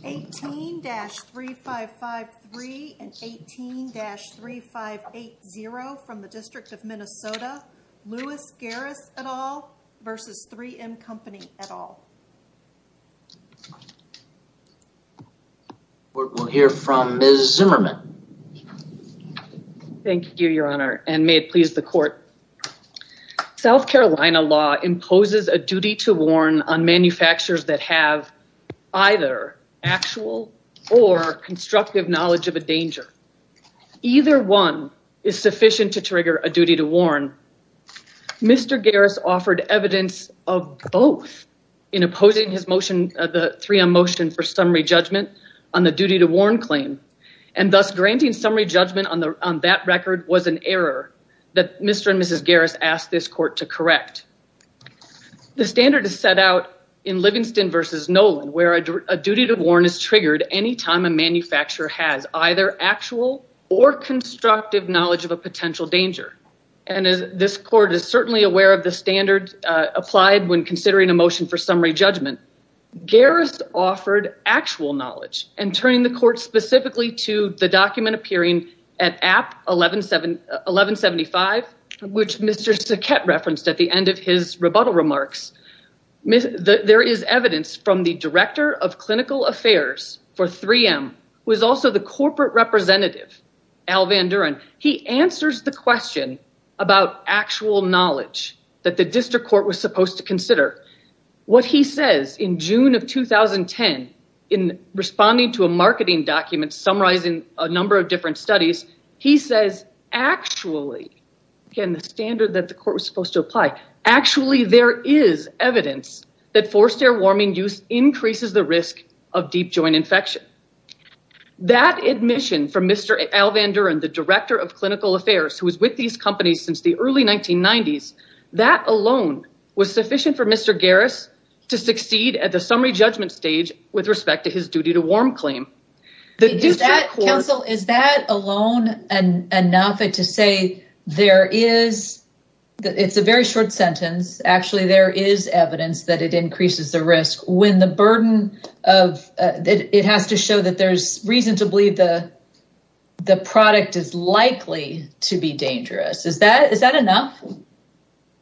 18-3553 and 18-3580 from the District of Minnesota. Lewis Gareis et al versus 3M Company et al. We'll hear from Ms. Zimmerman. Thank you, your honor, and may it please the court. South Carolina law imposes a duty to warn on manufacturers that have either actual or constructive knowledge of a danger. Either one is sufficient to trigger a duty to warn. Mr. Gareis offered evidence of both in opposing his motion, the 3M motion for summary judgment on the duty to warn claim and thus granting summary judgment on that record was an error that Mr. and Mrs. Gareis asked this court to correct. The standard is set out in Livingston versus Nolan where a duty to warn is triggered any time a manufacturer has either actual or constructive knowledge of a potential danger and this court is certainly aware of the standard applied when considering a motion for summary judgment. Gareis offered actual knowledge and the court specifically to the document appearing at app 1175 which Mr. Saket referenced at the end of his rebuttal remarks. There is evidence from the director of clinical affairs for 3M who is also the corporate representative Al Van Duren. He answers the question about actual knowledge that the district court was supposed to consider. What he says in June of 2010 in a marketing document summarizing a number of different studies, he says actually there is evidence that forced air warming use increases the risk of deep joint infection. That admission from Mr. Al Van Duren, the director of clinical affairs who was with these companies since the early 1990s, that alone was sufficient for Mr. Gareis to succeed at the summary judgment stage with respect to his duty to warm claim. Counsel, is that alone enough to say there is, it's a very short sentence, actually there is evidence that it increases the risk when the burden of, it has to show that there's reason to believe the product is likely to be dangerous. Is that enough?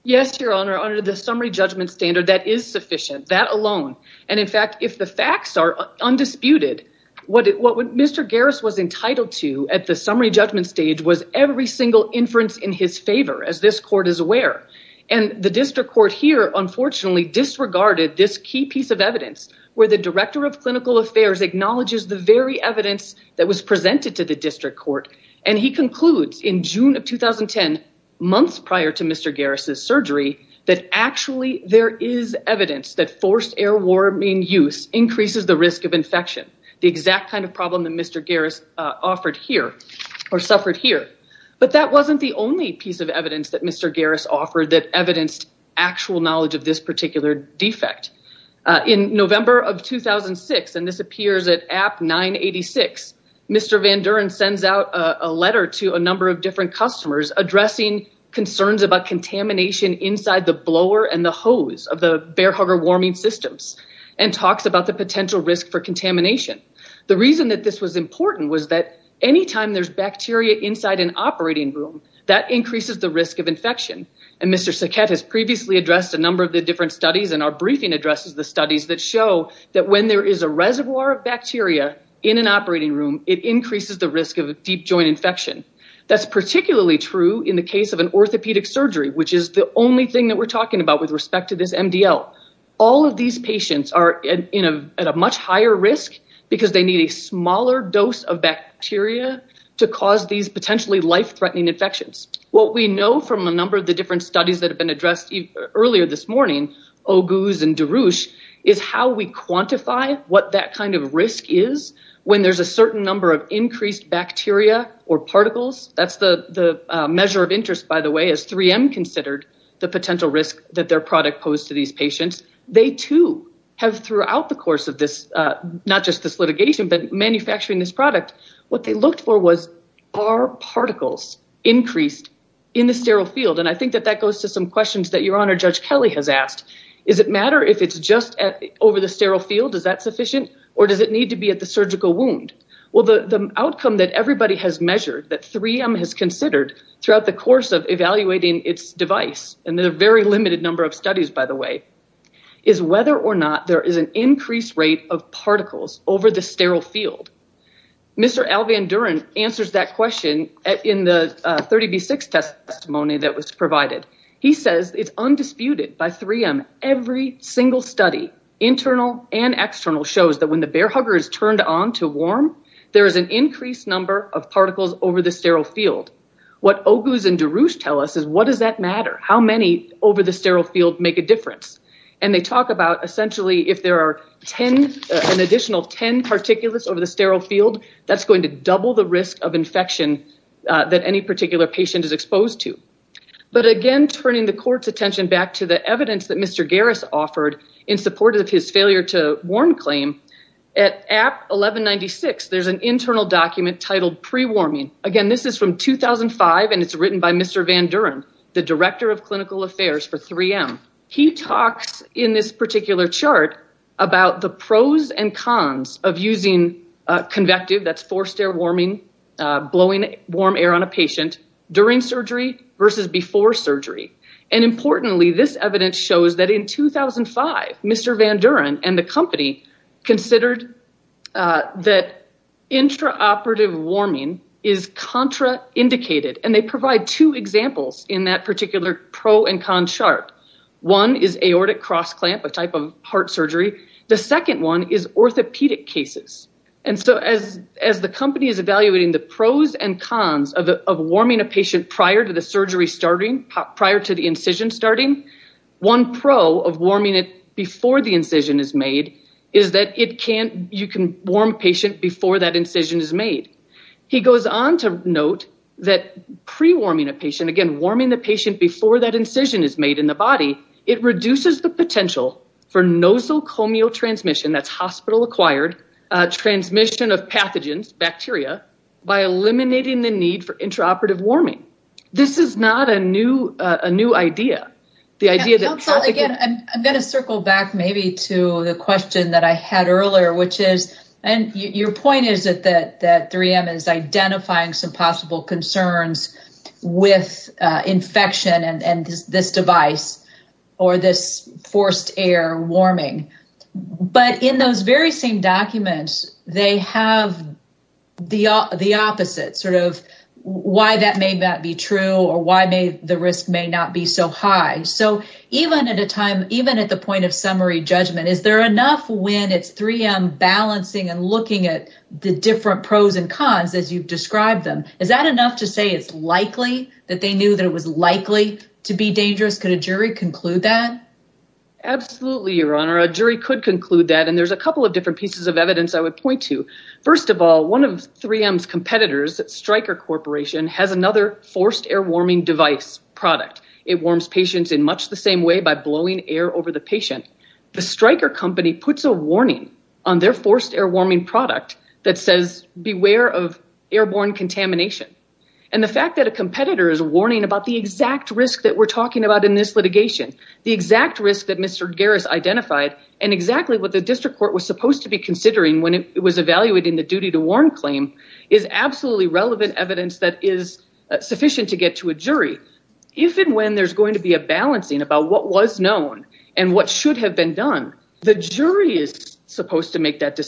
Yes your honor, under the summary judgment standard that is sufficient, that alone. And in fact if the facts are undisputed, what Mr. Gareis was entitled to at the summary judgment stage was every single inference in his favor as this court is aware. And the district court here unfortunately disregarded this key piece of evidence where the director of clinical affairs acknowledges the very evidence that was presented to the district court and he concludes in June of 2010, months prior to Mr. Gareis' surgery, that actually there is evidence that forced air warming use increases the risk of infection. The exact kind of problem that Mr. Gareis offered here or suffered here. But that wasn't the only piece of evidence that Mr. Gareis offered that evidenced actual knowledge of this particular defect. In November of 2006, and this appears at app 986, Mr. Van Duren sends out a letter to a and the hose of the bear hugger warming systems and talks about the potential risk for contamination. The reason that this was important was that anytime there's bacteria inside an operating room, that increases the risk of infection. And Mr. Saket has previously addressed a number of the different studies and our briefing addresses the studies that show that when there is a reservoir of bacteria in an operating room, it increases the risk of a deep joint infection. That's true in the case of an orthopedic surgery, which is the only thing that we're talking about with respect to this MDL. All of these patients are at a much higher risk because they need a smaller dose of bacteria to cause these potentially life-threatening infections. What we know from a number of the different studies that have been addressed earlier this morning, Oguz and Darush, is how we quantify what that kind of risk is when there's a certain number of increased bacteria or particles. That's the measure of interest, by the way, as 3M considered the potential risk that their product posed to these patients. They too have throughout the course of this, not just this litigation, but manufacturing this product, what they looked for was, are particles increased in the sterile field? And I think that that goes to some questions that Your Honor, Judge Kelly has asked. Is it matter if it's just over the sterile field? Is that sufficient? Or does it need to be the surgical wound? Well, the outcome that everybody has measured, that 3M has considered throughout the course of evaluating its device, and there are very limited number of studies, by the way, is whether or not there is an increased rate of particles over the sterile field. Mr. Alvandurin answers that question in the 30B6 testimony that was provided. He says it's on to warm. There is an increased number of particles over the sterile field. What Oguz and DeRouche tell us is what does that matter? How many over the sterile field make a difference? And they talk about essentially if there are 10, an additional 10 particulates over the sterile field, that's going to double the risk of infection that any particular patient is exposed to. But again, turning the court's attention back to the evidence that Mr. Garris offered in support of his failure to warn claim, at 1196, there's an internal document titled pre-warming. Again, this is from 2005, and it's written by Mr. Vandurin, the Director of Clinical Affairs for 3M. He talks in this particular chart about the pros and cons of using convective, that's forced air warming, blowing warm air on a patient during surgery versus before surgery. And importantly, this evidence shows that in 2005, Mr. Vandurin and the company considered that intraoperative warming is contraindicated. And they provide two examples in that particular pro and con chart. One is aortic cross clamp, a type of heart surgery. The second one is orthopedic cases. And so as the company is evaluating the pros and cons of warming a patient prior to the surgery starting, prior to the incision starting, one pro of warming it before the incision is made is that you can warm patient before that incision is made. He goes on to note that pre-warming a patient, again, warming the patient before that incision is made in the body, it reduces the potential for nosocomial transmission, that's hospital acquired transmission of pathogens, bacteria, by eliminating the need for intraoperative warming. This is not a new idea. I'm going to circle back maybe to the question that I had earlier, which is, and your point is that 3M is identifying some possible concerns with infection and this device or this forced air warming. But in those very same documents, they have the opposite sort of why that may not be true or why the risk may not be so high. So even at the point of summary judgment, is there enough when it's 3M balancing and looking at the different pros and cons as you've described them, is that enough to say it's likely that they knew that it was likely to be dangerous? Could a jury conclude that? Absolutely, Your Honor. A jury could conclude that. And there's a couple of different pieces of evidence I would point to. First of all, one of 3M's competitors, Stryker Corporation, has another forced air warming device product. It warms patients in much the same way by blowing air over the patient. The Stryker company puts a warning on their forced air warming product that says, beware of airborne contamination. And the fact that a competitor is warning about the exact risk that we're talking about in this litigation, the exact risk that Mr. Garris identified, and exactly what the district court was supposed to be considering when it was evaluating the duty to warn claim, is absolutely relevant evidence that is sufficient to get to a jury. If and when there's going to be a balancing about what was known and what should have been done, the jury is supposed to make that the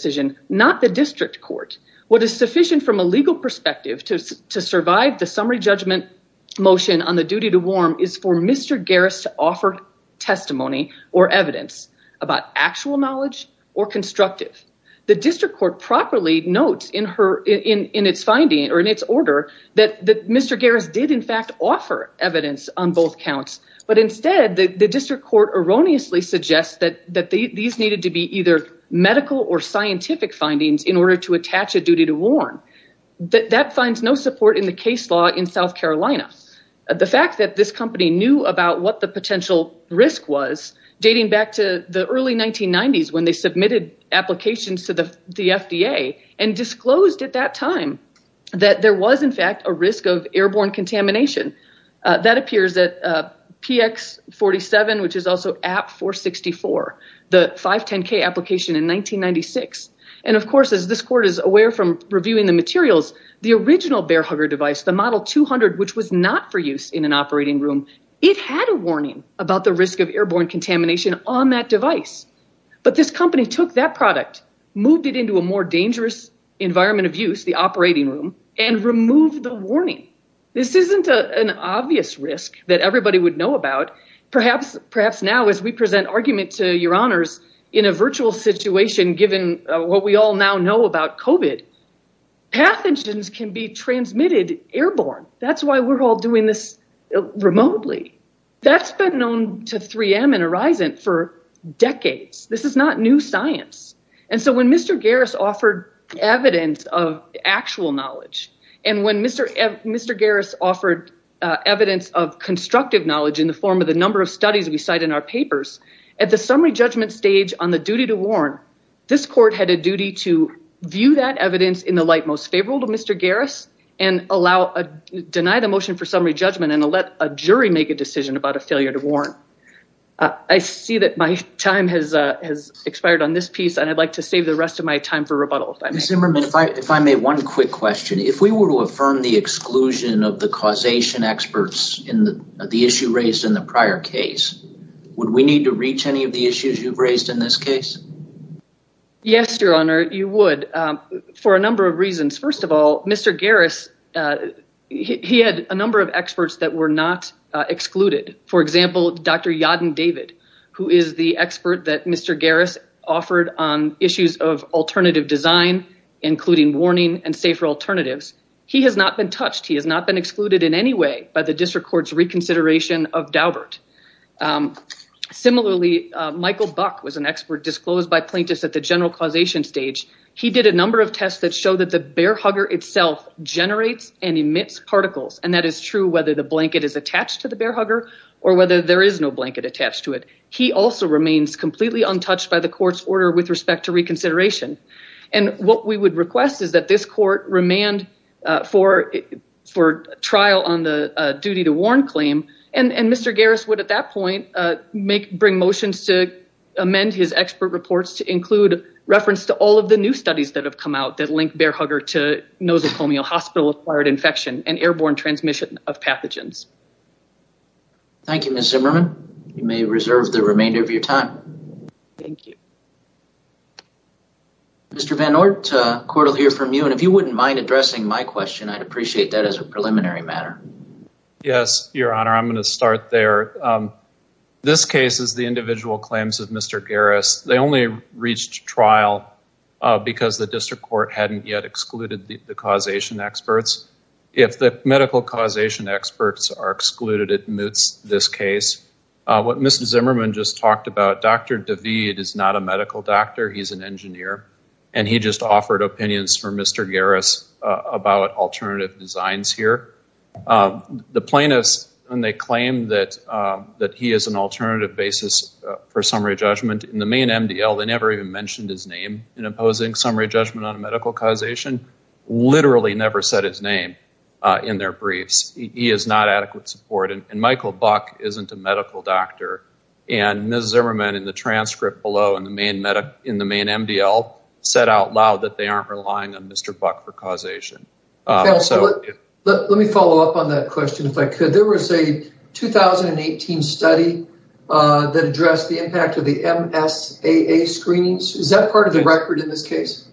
summary judgment motion on the duty to warn is for Mr. Garris to offer testimony or evidence about actual knowledge or constructive. The district court properly notes in its order that Mr. Garris did, in fact, offer evidence on both counts. But instead, the district court erroneously suggests that these needed to be either medical or scientific findings in order to attach a duty to warn. That finds no support in the case law in South Carolina. The fact that this company knew about what the potential risk was, dating back to the early 1990s when they submitted applications to the FDA, and disclosed at that time that there was, in fact, a risk of airborne contamination. That appears at PX47, which is also AP464, the 510K application in 1996. Of course, as this court is aware from reviewing the materials, the original bear hugger device, the model 200, which was not for use in an operating room, it had a warning about the risk of airborne contamination on that device. But this company took that product, moved it into a more dangerous environment of use, the operating room, and removed the warning. This isn't an obvious risk that everybody would know about. Perhaps now, as we present argument to your honors in a virtual situation, given what we all now know about COVID, pathogens can be transmitted airborne. That's why we're all doing this remotely. That's been known to 3M and Horizon for decades. This is not new science. When Mr. Garris offered evidence of actual knowledge, and when Mr. Garris offered evidence of constructive knowledge in the form of the judgment stage on the duty to warn, this court had a duty to view that evidence in the light most favorable to Mr. Garris and allow, deny the motion for summary judgment and let a jury make a decision about a failure to warn. I see that my time has expired on this piece, and I'd like to save the rest of my time for rebuttal. If I may, one quick question. If we were to affirm the exclusion of the causation experts in the issue raised in the prior case, would we need to reach any of the issues you've raised in this case? Yes, your honor, you would, for a number of reasons. First of all, Mr. Garris, he had a number of experts that were not excluded. For example, Dr. Yadin David, who is the expert that Mr. Garris offered on issues of alternative design, including warning and safer alternatives. He has not been touched. He has not been Michael Buck was an expert disclosed by plaintiffs at the general causation stage. He did a number of tests that show that the bear hugger itself generates and emits particles, and that is true whether the blanket is attached to the bear hugger or whether there is no blanket attached to it. He also remains completely untouched by the court's order with respect to reconsideration. And what we would request is that this court remand for trial on the claim, and Mr. Garris would at that point bring motions to amend his expert reports to include reference to all of the new studies that have come out that link bear hugger to nosocomial hospital-acquired infection and airborne transmission of pathogens. Thank you, Ms. Zimmerman. You may reserve the remainder of your time. Thank you. Mr. Van Oort, the court will hear from you, and if you wouldn't mind addressing my question, I'd appreciate that as a preliminary matter. Yes, Your Honor. I'm going to start there. This case is the individual claims of Mr. Garris. They only reached trial because the district court hadn't yet excluded the causation experts. If the medical causation experts are excluded, it moots this case. What Ms. Zimmerman just talked about, Dr. David is not a medical doctor. He's an engineer, and he just offered opinions for Mr. Garris about alternative designs here. The plaintiffs, when they claim that he is an alternative basis for summary judgment, in the main MDL, they never even mentioned his name in opposing summary judgment on a medical causation, literally never said his name in their briefs. He is not adequate support, and Michael Buck isn't a medical doctor, and Ms. Zimmerman in the transcript below in the main MDL said out loud that they aren't relying on Mr. Buck for causation. Let me follow up on that question if I could. There was a 2018 study that addressed the impact of the MSAA screenings. Is that part of the record in this case?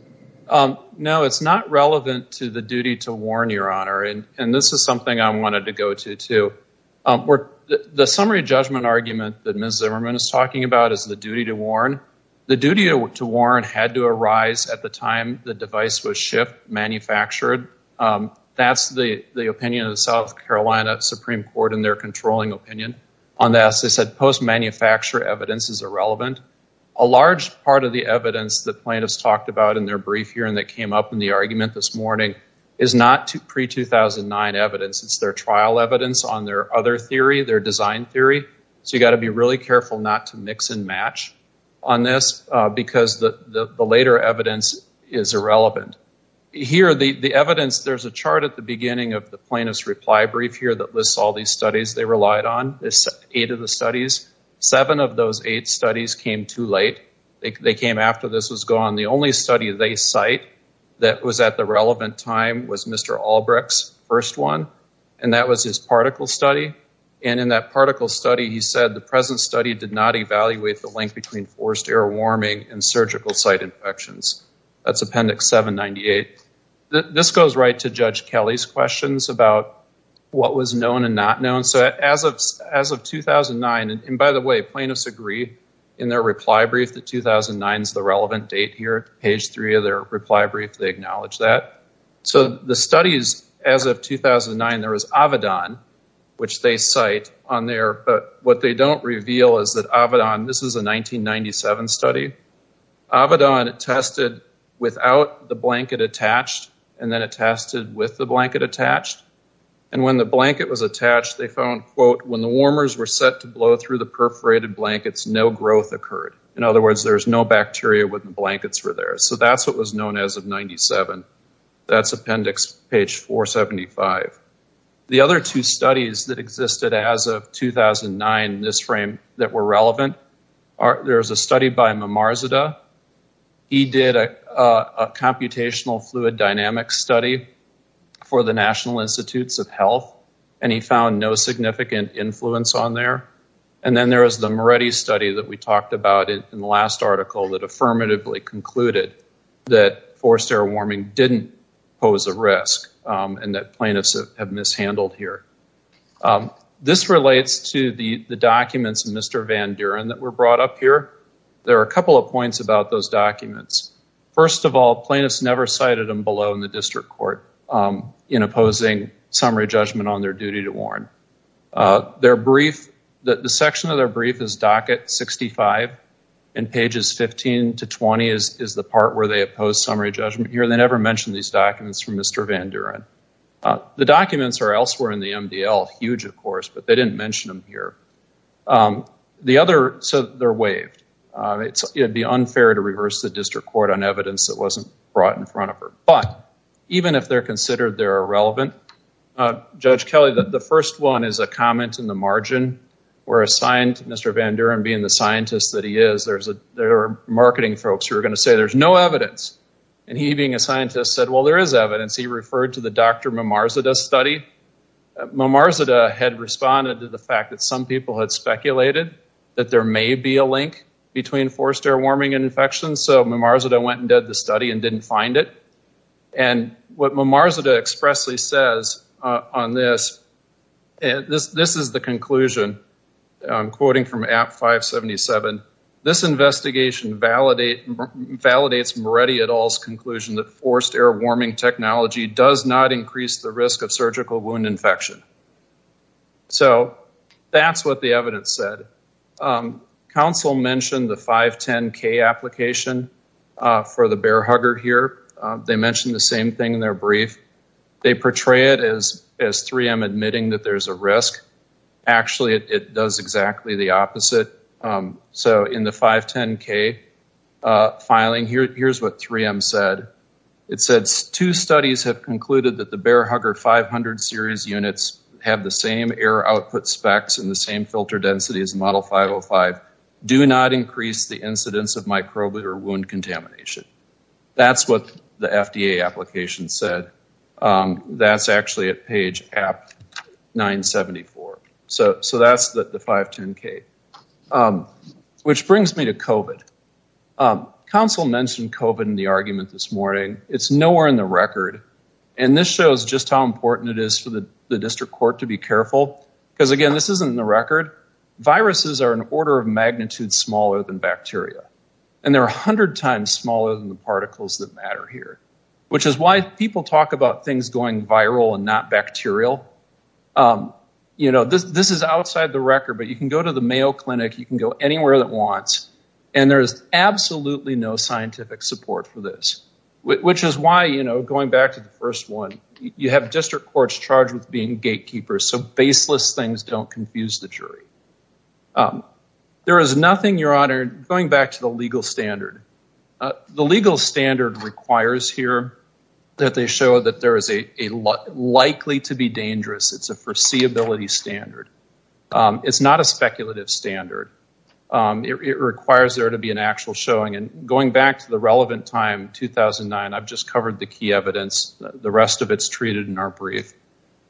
No, it's not relevant to the duty to warn, Your Honor, and this is something I wanted to go to too. The summary judgment argument that Ms. The duty to warn had to arise at the time the device was shipped, manufactured. That's the opinion of the South Carolina Supreme Court in their controlling opinion on this. They said post manufacture evidence is irrelevant. A large part of the evidence that plaintiffs talked about in their brief hearing that came up in the argument this morning is not pre-2009 evidence. It's their trial evidence on their other theory, their design theory, so you've got to be really careful not to on this because the later evidence is irrelevant. Here, the evidence, there's a chart at the beginning of the plaintiff's reply brief here that lists all these studies they relied on, this eight of the studies. Seven of those eight studies came too late. They came after this was gone. The only study they cite that was at the relevant time was Mr. Albrecht's first one, and that was his particle study, and in that particle study he said the present study did not evaluate the link between forced air warming and surgical site infections. That's Appendix 798. This goes right to Judge Kelly's questions about what was known and not known. So as of 2009, and by the way, plaintiffs agree in their reply brief that 2009 is the relevant date here. Page three of their reply brief, they acknowledge that. So the studies as of 2009, there was Avadon, which they cite on there, but what they don't reveal is that Avadon, this is a 1997 study, Avadon tested without the blanket attached, and then it tested with the blanket attached, and when the blanket was attached, they found, quote, when the warmers were set to blow through the perforated blankets, no growth occurred. In other words, there's no bacteria when the blankets were there. So that's what was known as of 1997. That's Appendix page 475. The other two studies that existed as of 2009 in this frame that were relevant, there was a study by Mamarzadeh. He did a computational fluid dynamics study for the National Institutes of Health, and he found no significant influence on there, and then there was the Moretti study that we talked about in the last article that affirmatively concluded that forced air warming didn't pose a risk and that plaintiffs have mishandled here. This relates to the documents of Mr. Van Duren that were brought up here. There are a couple of points about those documents. First of all, plaintiffs never cited them below in the district court in opposing summary judgment on their duty to warn. Their brief, the section of their brief is docket 65, and pages 15 to 20 is the part where they oppose summary judgment here. They never mention these documents from Mr. Van Duren. The documents are elsewhere in the MDL, huge, of course, but they didn't mention them here. The other, so they're waived. It would be unfair to reverse the district court on evidence that wasn't brought in front of even if they're considered they're irrelevant. Judge Kelly, the first one is a comment in the margin where Mr. Van Duren being the scientist that he is, there are marketing folks who are going to say there's no evidence, and he being a scientist said, well, there is evidence. He referred to the Dr. Mamarzadeh study. Mamarzadeh had responded to the fact that some people had speculated that there may be a link between forced air warming and infections, so Mamarzadeh went and didn't find it, and what Mamarzadeh expressly says on this, this is the conclusion. I'm quoting from app 577. This investigation validates Moretti et al.'s conclusion that forced air warming technology does not increase the risk of surgical wound infection. So that's what the evidence said. Council mentioned the 510K application for the Bear Hugger here. They mentioned the same thing in their brief. They portray it as 3M admitting that there's a risk. Actually, it does exactly the opposite. So in the 510K filing, here's what 3M said. It said two studies have concluded that Bear Hugger 500 series units have the same air output specs and the same filter density as model 505, do not increase the incidence of microbial or wound contamination. That's what the FDA application said. That's actually at page app 974. So that's the 510K. Which brings me to COVID. Council mentioned COVID in the argument this morning. It's nowhere in the record, and this shows just how important it is for the district court to be careful, because again, this isn't in the record. Viruses are an order of magnitude smaller than bacteria, and they're 100 times smaller than the particles that matter here, which is why people talk about things going viral and not bacterial. This is outside the record, but you can go to the Mayo Clinic, you can go anywhere that wants, and there's absolutely no scientific support for this. Which is why, you know, going back to the first one, you have district courts charged with being gatekeepers, so baseless things don't confuse the jury. There is nothing, your honor, going back to the legal standard. The legal standard requires here that they show that there is a likely to be dangerous, it's a foreseeability standard. It's not a speculative standard. It requires there to be an actual showing, and going back to the relevant time, 2009, I've just covered the key evidence. The rest of it's treated in our brief.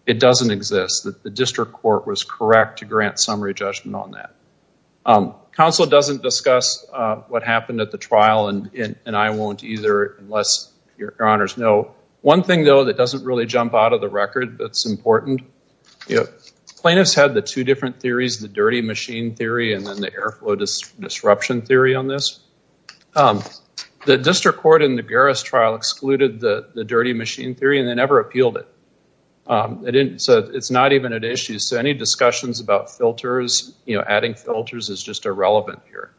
It doesn't exist. The district court was correct to grant summary judgment on that. Council doesn't discuss what happened at the trial, and I won't either, unless your honors know. One thing, though, that doesn't really jump out of the record, that's important. Plaintiffs had the two different theories, the dirty machine theory, and then the air flow disruption theory on this. The district court in the Garris trial excluded the dirty machine theory, and they never appealed it. So, it's not even an issue. So, any discussions about filters, you know, adding filters is just irrelevant here,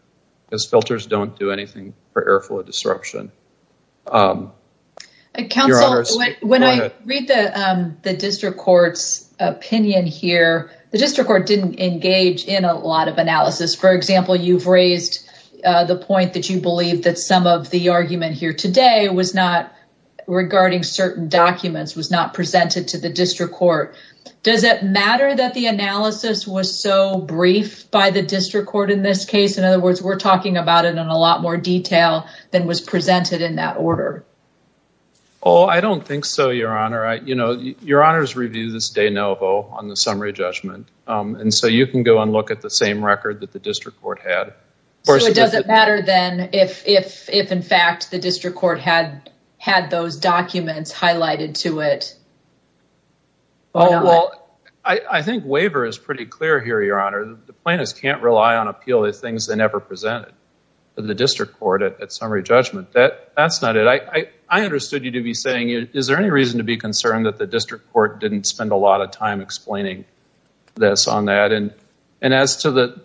because filters don't do anything for air flow disruption. Your honors. Council, when I read the district court's opinion here, the district court didn't engage in a lot of analysis. For example, you've raised the point that you believe that some of the argument here today was not regarding certain documents, was not presented to the district court. Does it matter that the analysis was so brief by the district court in this case? In other words, we're talking about it in a lot more detail than was presented in that order. Oh, I don't think so, your honor. You know, your honors review this de novo on the summary judgment, and so you can go and look at the same record that the district court had. So, it doesn't matter then if in fact the district court had those documents highlighted to it? Oh, well, I think waiver is pretty clear here, your honor. The plaintiffs can't rely on appeal the things they never presented to the district court at summary judgment. That's not it. I understood you to be saying, is there any reason to be concerned that the district court didn't spend a lot of time explaining this on that? And as to the,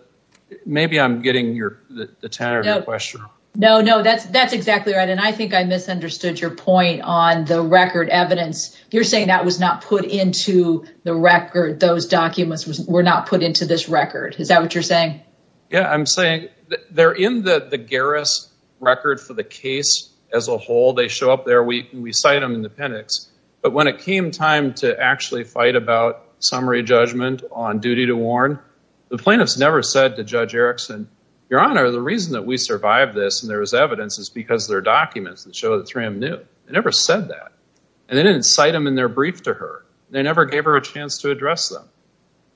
maybe I'm getting the tenor of your question. No, no, that's exactly right, and I think I misunderstood your point on the record evidence. You're saying that was not put into the record. Those documents were not put into this record. Is that what you're saying? Yeah, I'm saying they're in the the garris record for the case as a whole. They show up there. We cite them in the pennix, but when it came time to actually fight about summary judgment on duty to warn, the plaintiffs never said to Judge Erickson, your honor, the reason that we survived this and there was evidence is because they're documents that show that Tram knew. They never said that, and they didn't cite them in their brief to her. They never gave her a chance to address them,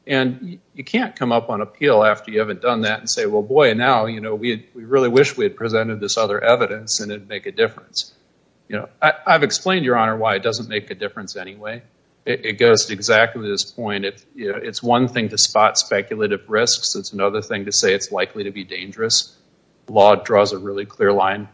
and you can't come up on appeal after you haven't done that and say, well, boy, now, you know, we really wish we had presented this other evidence and it'd make a difference. You know, I've explained, your honor, why it doesn't make a difference anyway. It goes to exactly this point. It's one thing to spot speculative risks. It's another thing to say it's likely to be dangerous. Law draws a really clear line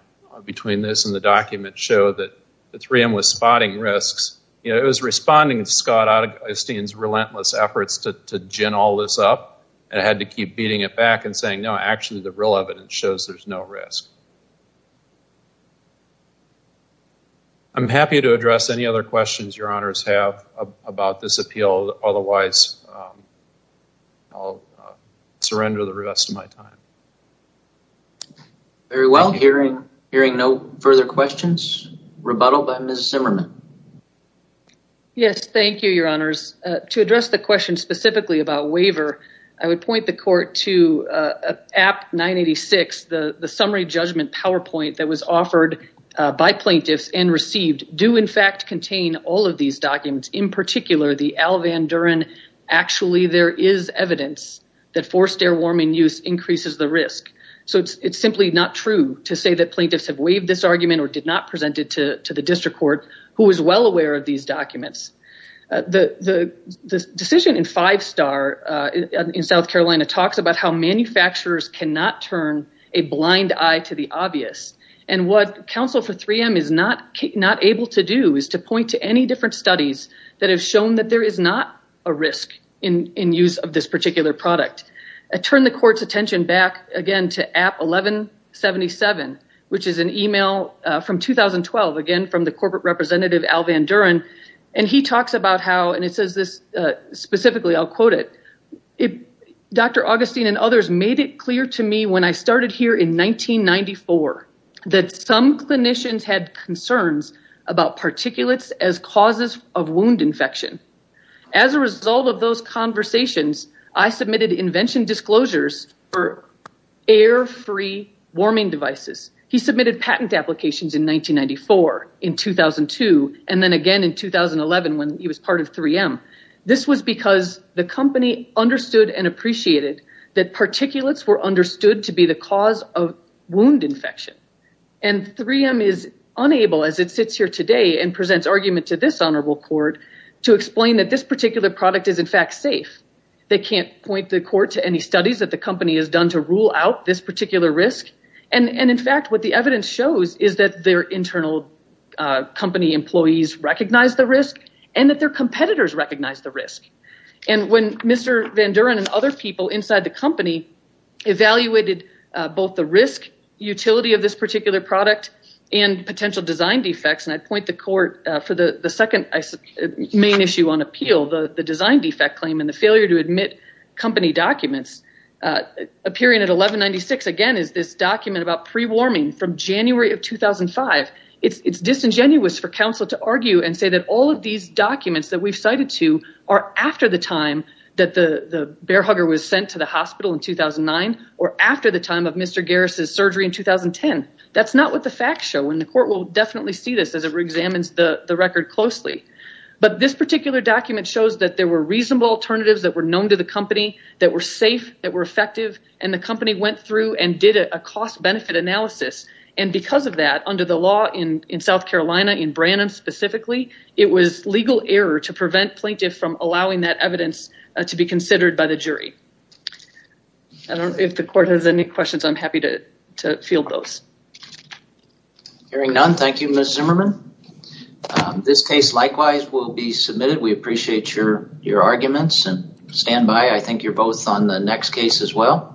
between this and the documents that show that Tram was spotting risks. It was responding to Scott Osteen's relentless efforts to gin all of this up and had to keep beating it back and saying, no, actually, the real evidence shows there's no risk. I'm happy to address any other questions your honors have about this appeal. Otherwise, I'll surrender the rest of my time. Very well. Hearing no further questions, rebuttal by Ms. Zimmerman. Yes, thank you, your honors. To address the question specifically about waiver, I would point the court to app 986, the summary judgment PowerPoint that was offered by plaintiffs and received do in fact contain all of these documents. In particular, the Al simply not true to say that plaintiffs have waived this argument or did not present it to the district court who is well aware of these documents. The decision in five star in South Carolina talks about how manufacturers cannot turn a blind eye to the obvious. What counsel for 3M is not able to do is to point to any different studies that have shown that there is a risk in use of this particular product. I turn the court's attention back to app 1177, which is an email from 2012, again, from the corporate representative Al Van Duren. He talks about how, and it says this specifically, I'll quote it, Dr. Augustine and others made it clear to me when I started here in 1994 that some clinicians had concerns about particulates as causes of wound infection. As a result of those conversations, I submitted invention disclosures for air free warming devices. He submitted patent applications in 1994, in 2002, and then again in 2011 when he was part of 3M. This was because the company understood and appreciated that particulates were understood to be the cause of wound infection. And 3M is unable, as it sits here today and presents argument to this honorable court, to explain that this particular product is in fact safe. They can't point the court to any studies that the company has done to rule out this particular risk. And in fact, what the evidence shows is that their internal company employees recognize the risk and that their competitors recognize the risk. And when Mr. Van Duren and other people inside the company evaluated both the risk utility of this particular product and potential design defects, and I point the court for the second main issue on appeal, the design defect claim and the failure to admit company documents, appearing at 1196 again is this document about pre-warming from January of 2005. It's disingenuous for counsel to argue and say that all of these documents that we've cited to are after the time that the bear hugger was sent to the hospital in 2009 or after the time of Mr. Garris' surgery in 2010. That's not what the facts show, and the court will definitely see this as it reexamines the record closely. But this particular document shows that there were reasonable alternatives that were known to the company that were safe, that were effective, and the company went through and did a cost-benefit analysis. And because of that, under the law in South Carolina, in Branham specifically, it was legal error to prevent plaintiffs from allowing that evidence to be considered by the court. If the court has any questions, I'm happy to field those. Hearing none, thank you, Ms. Zimmerman. This case likewise will be submitted. We appreciate your arguments and stand by. I think you're both on the next case as well.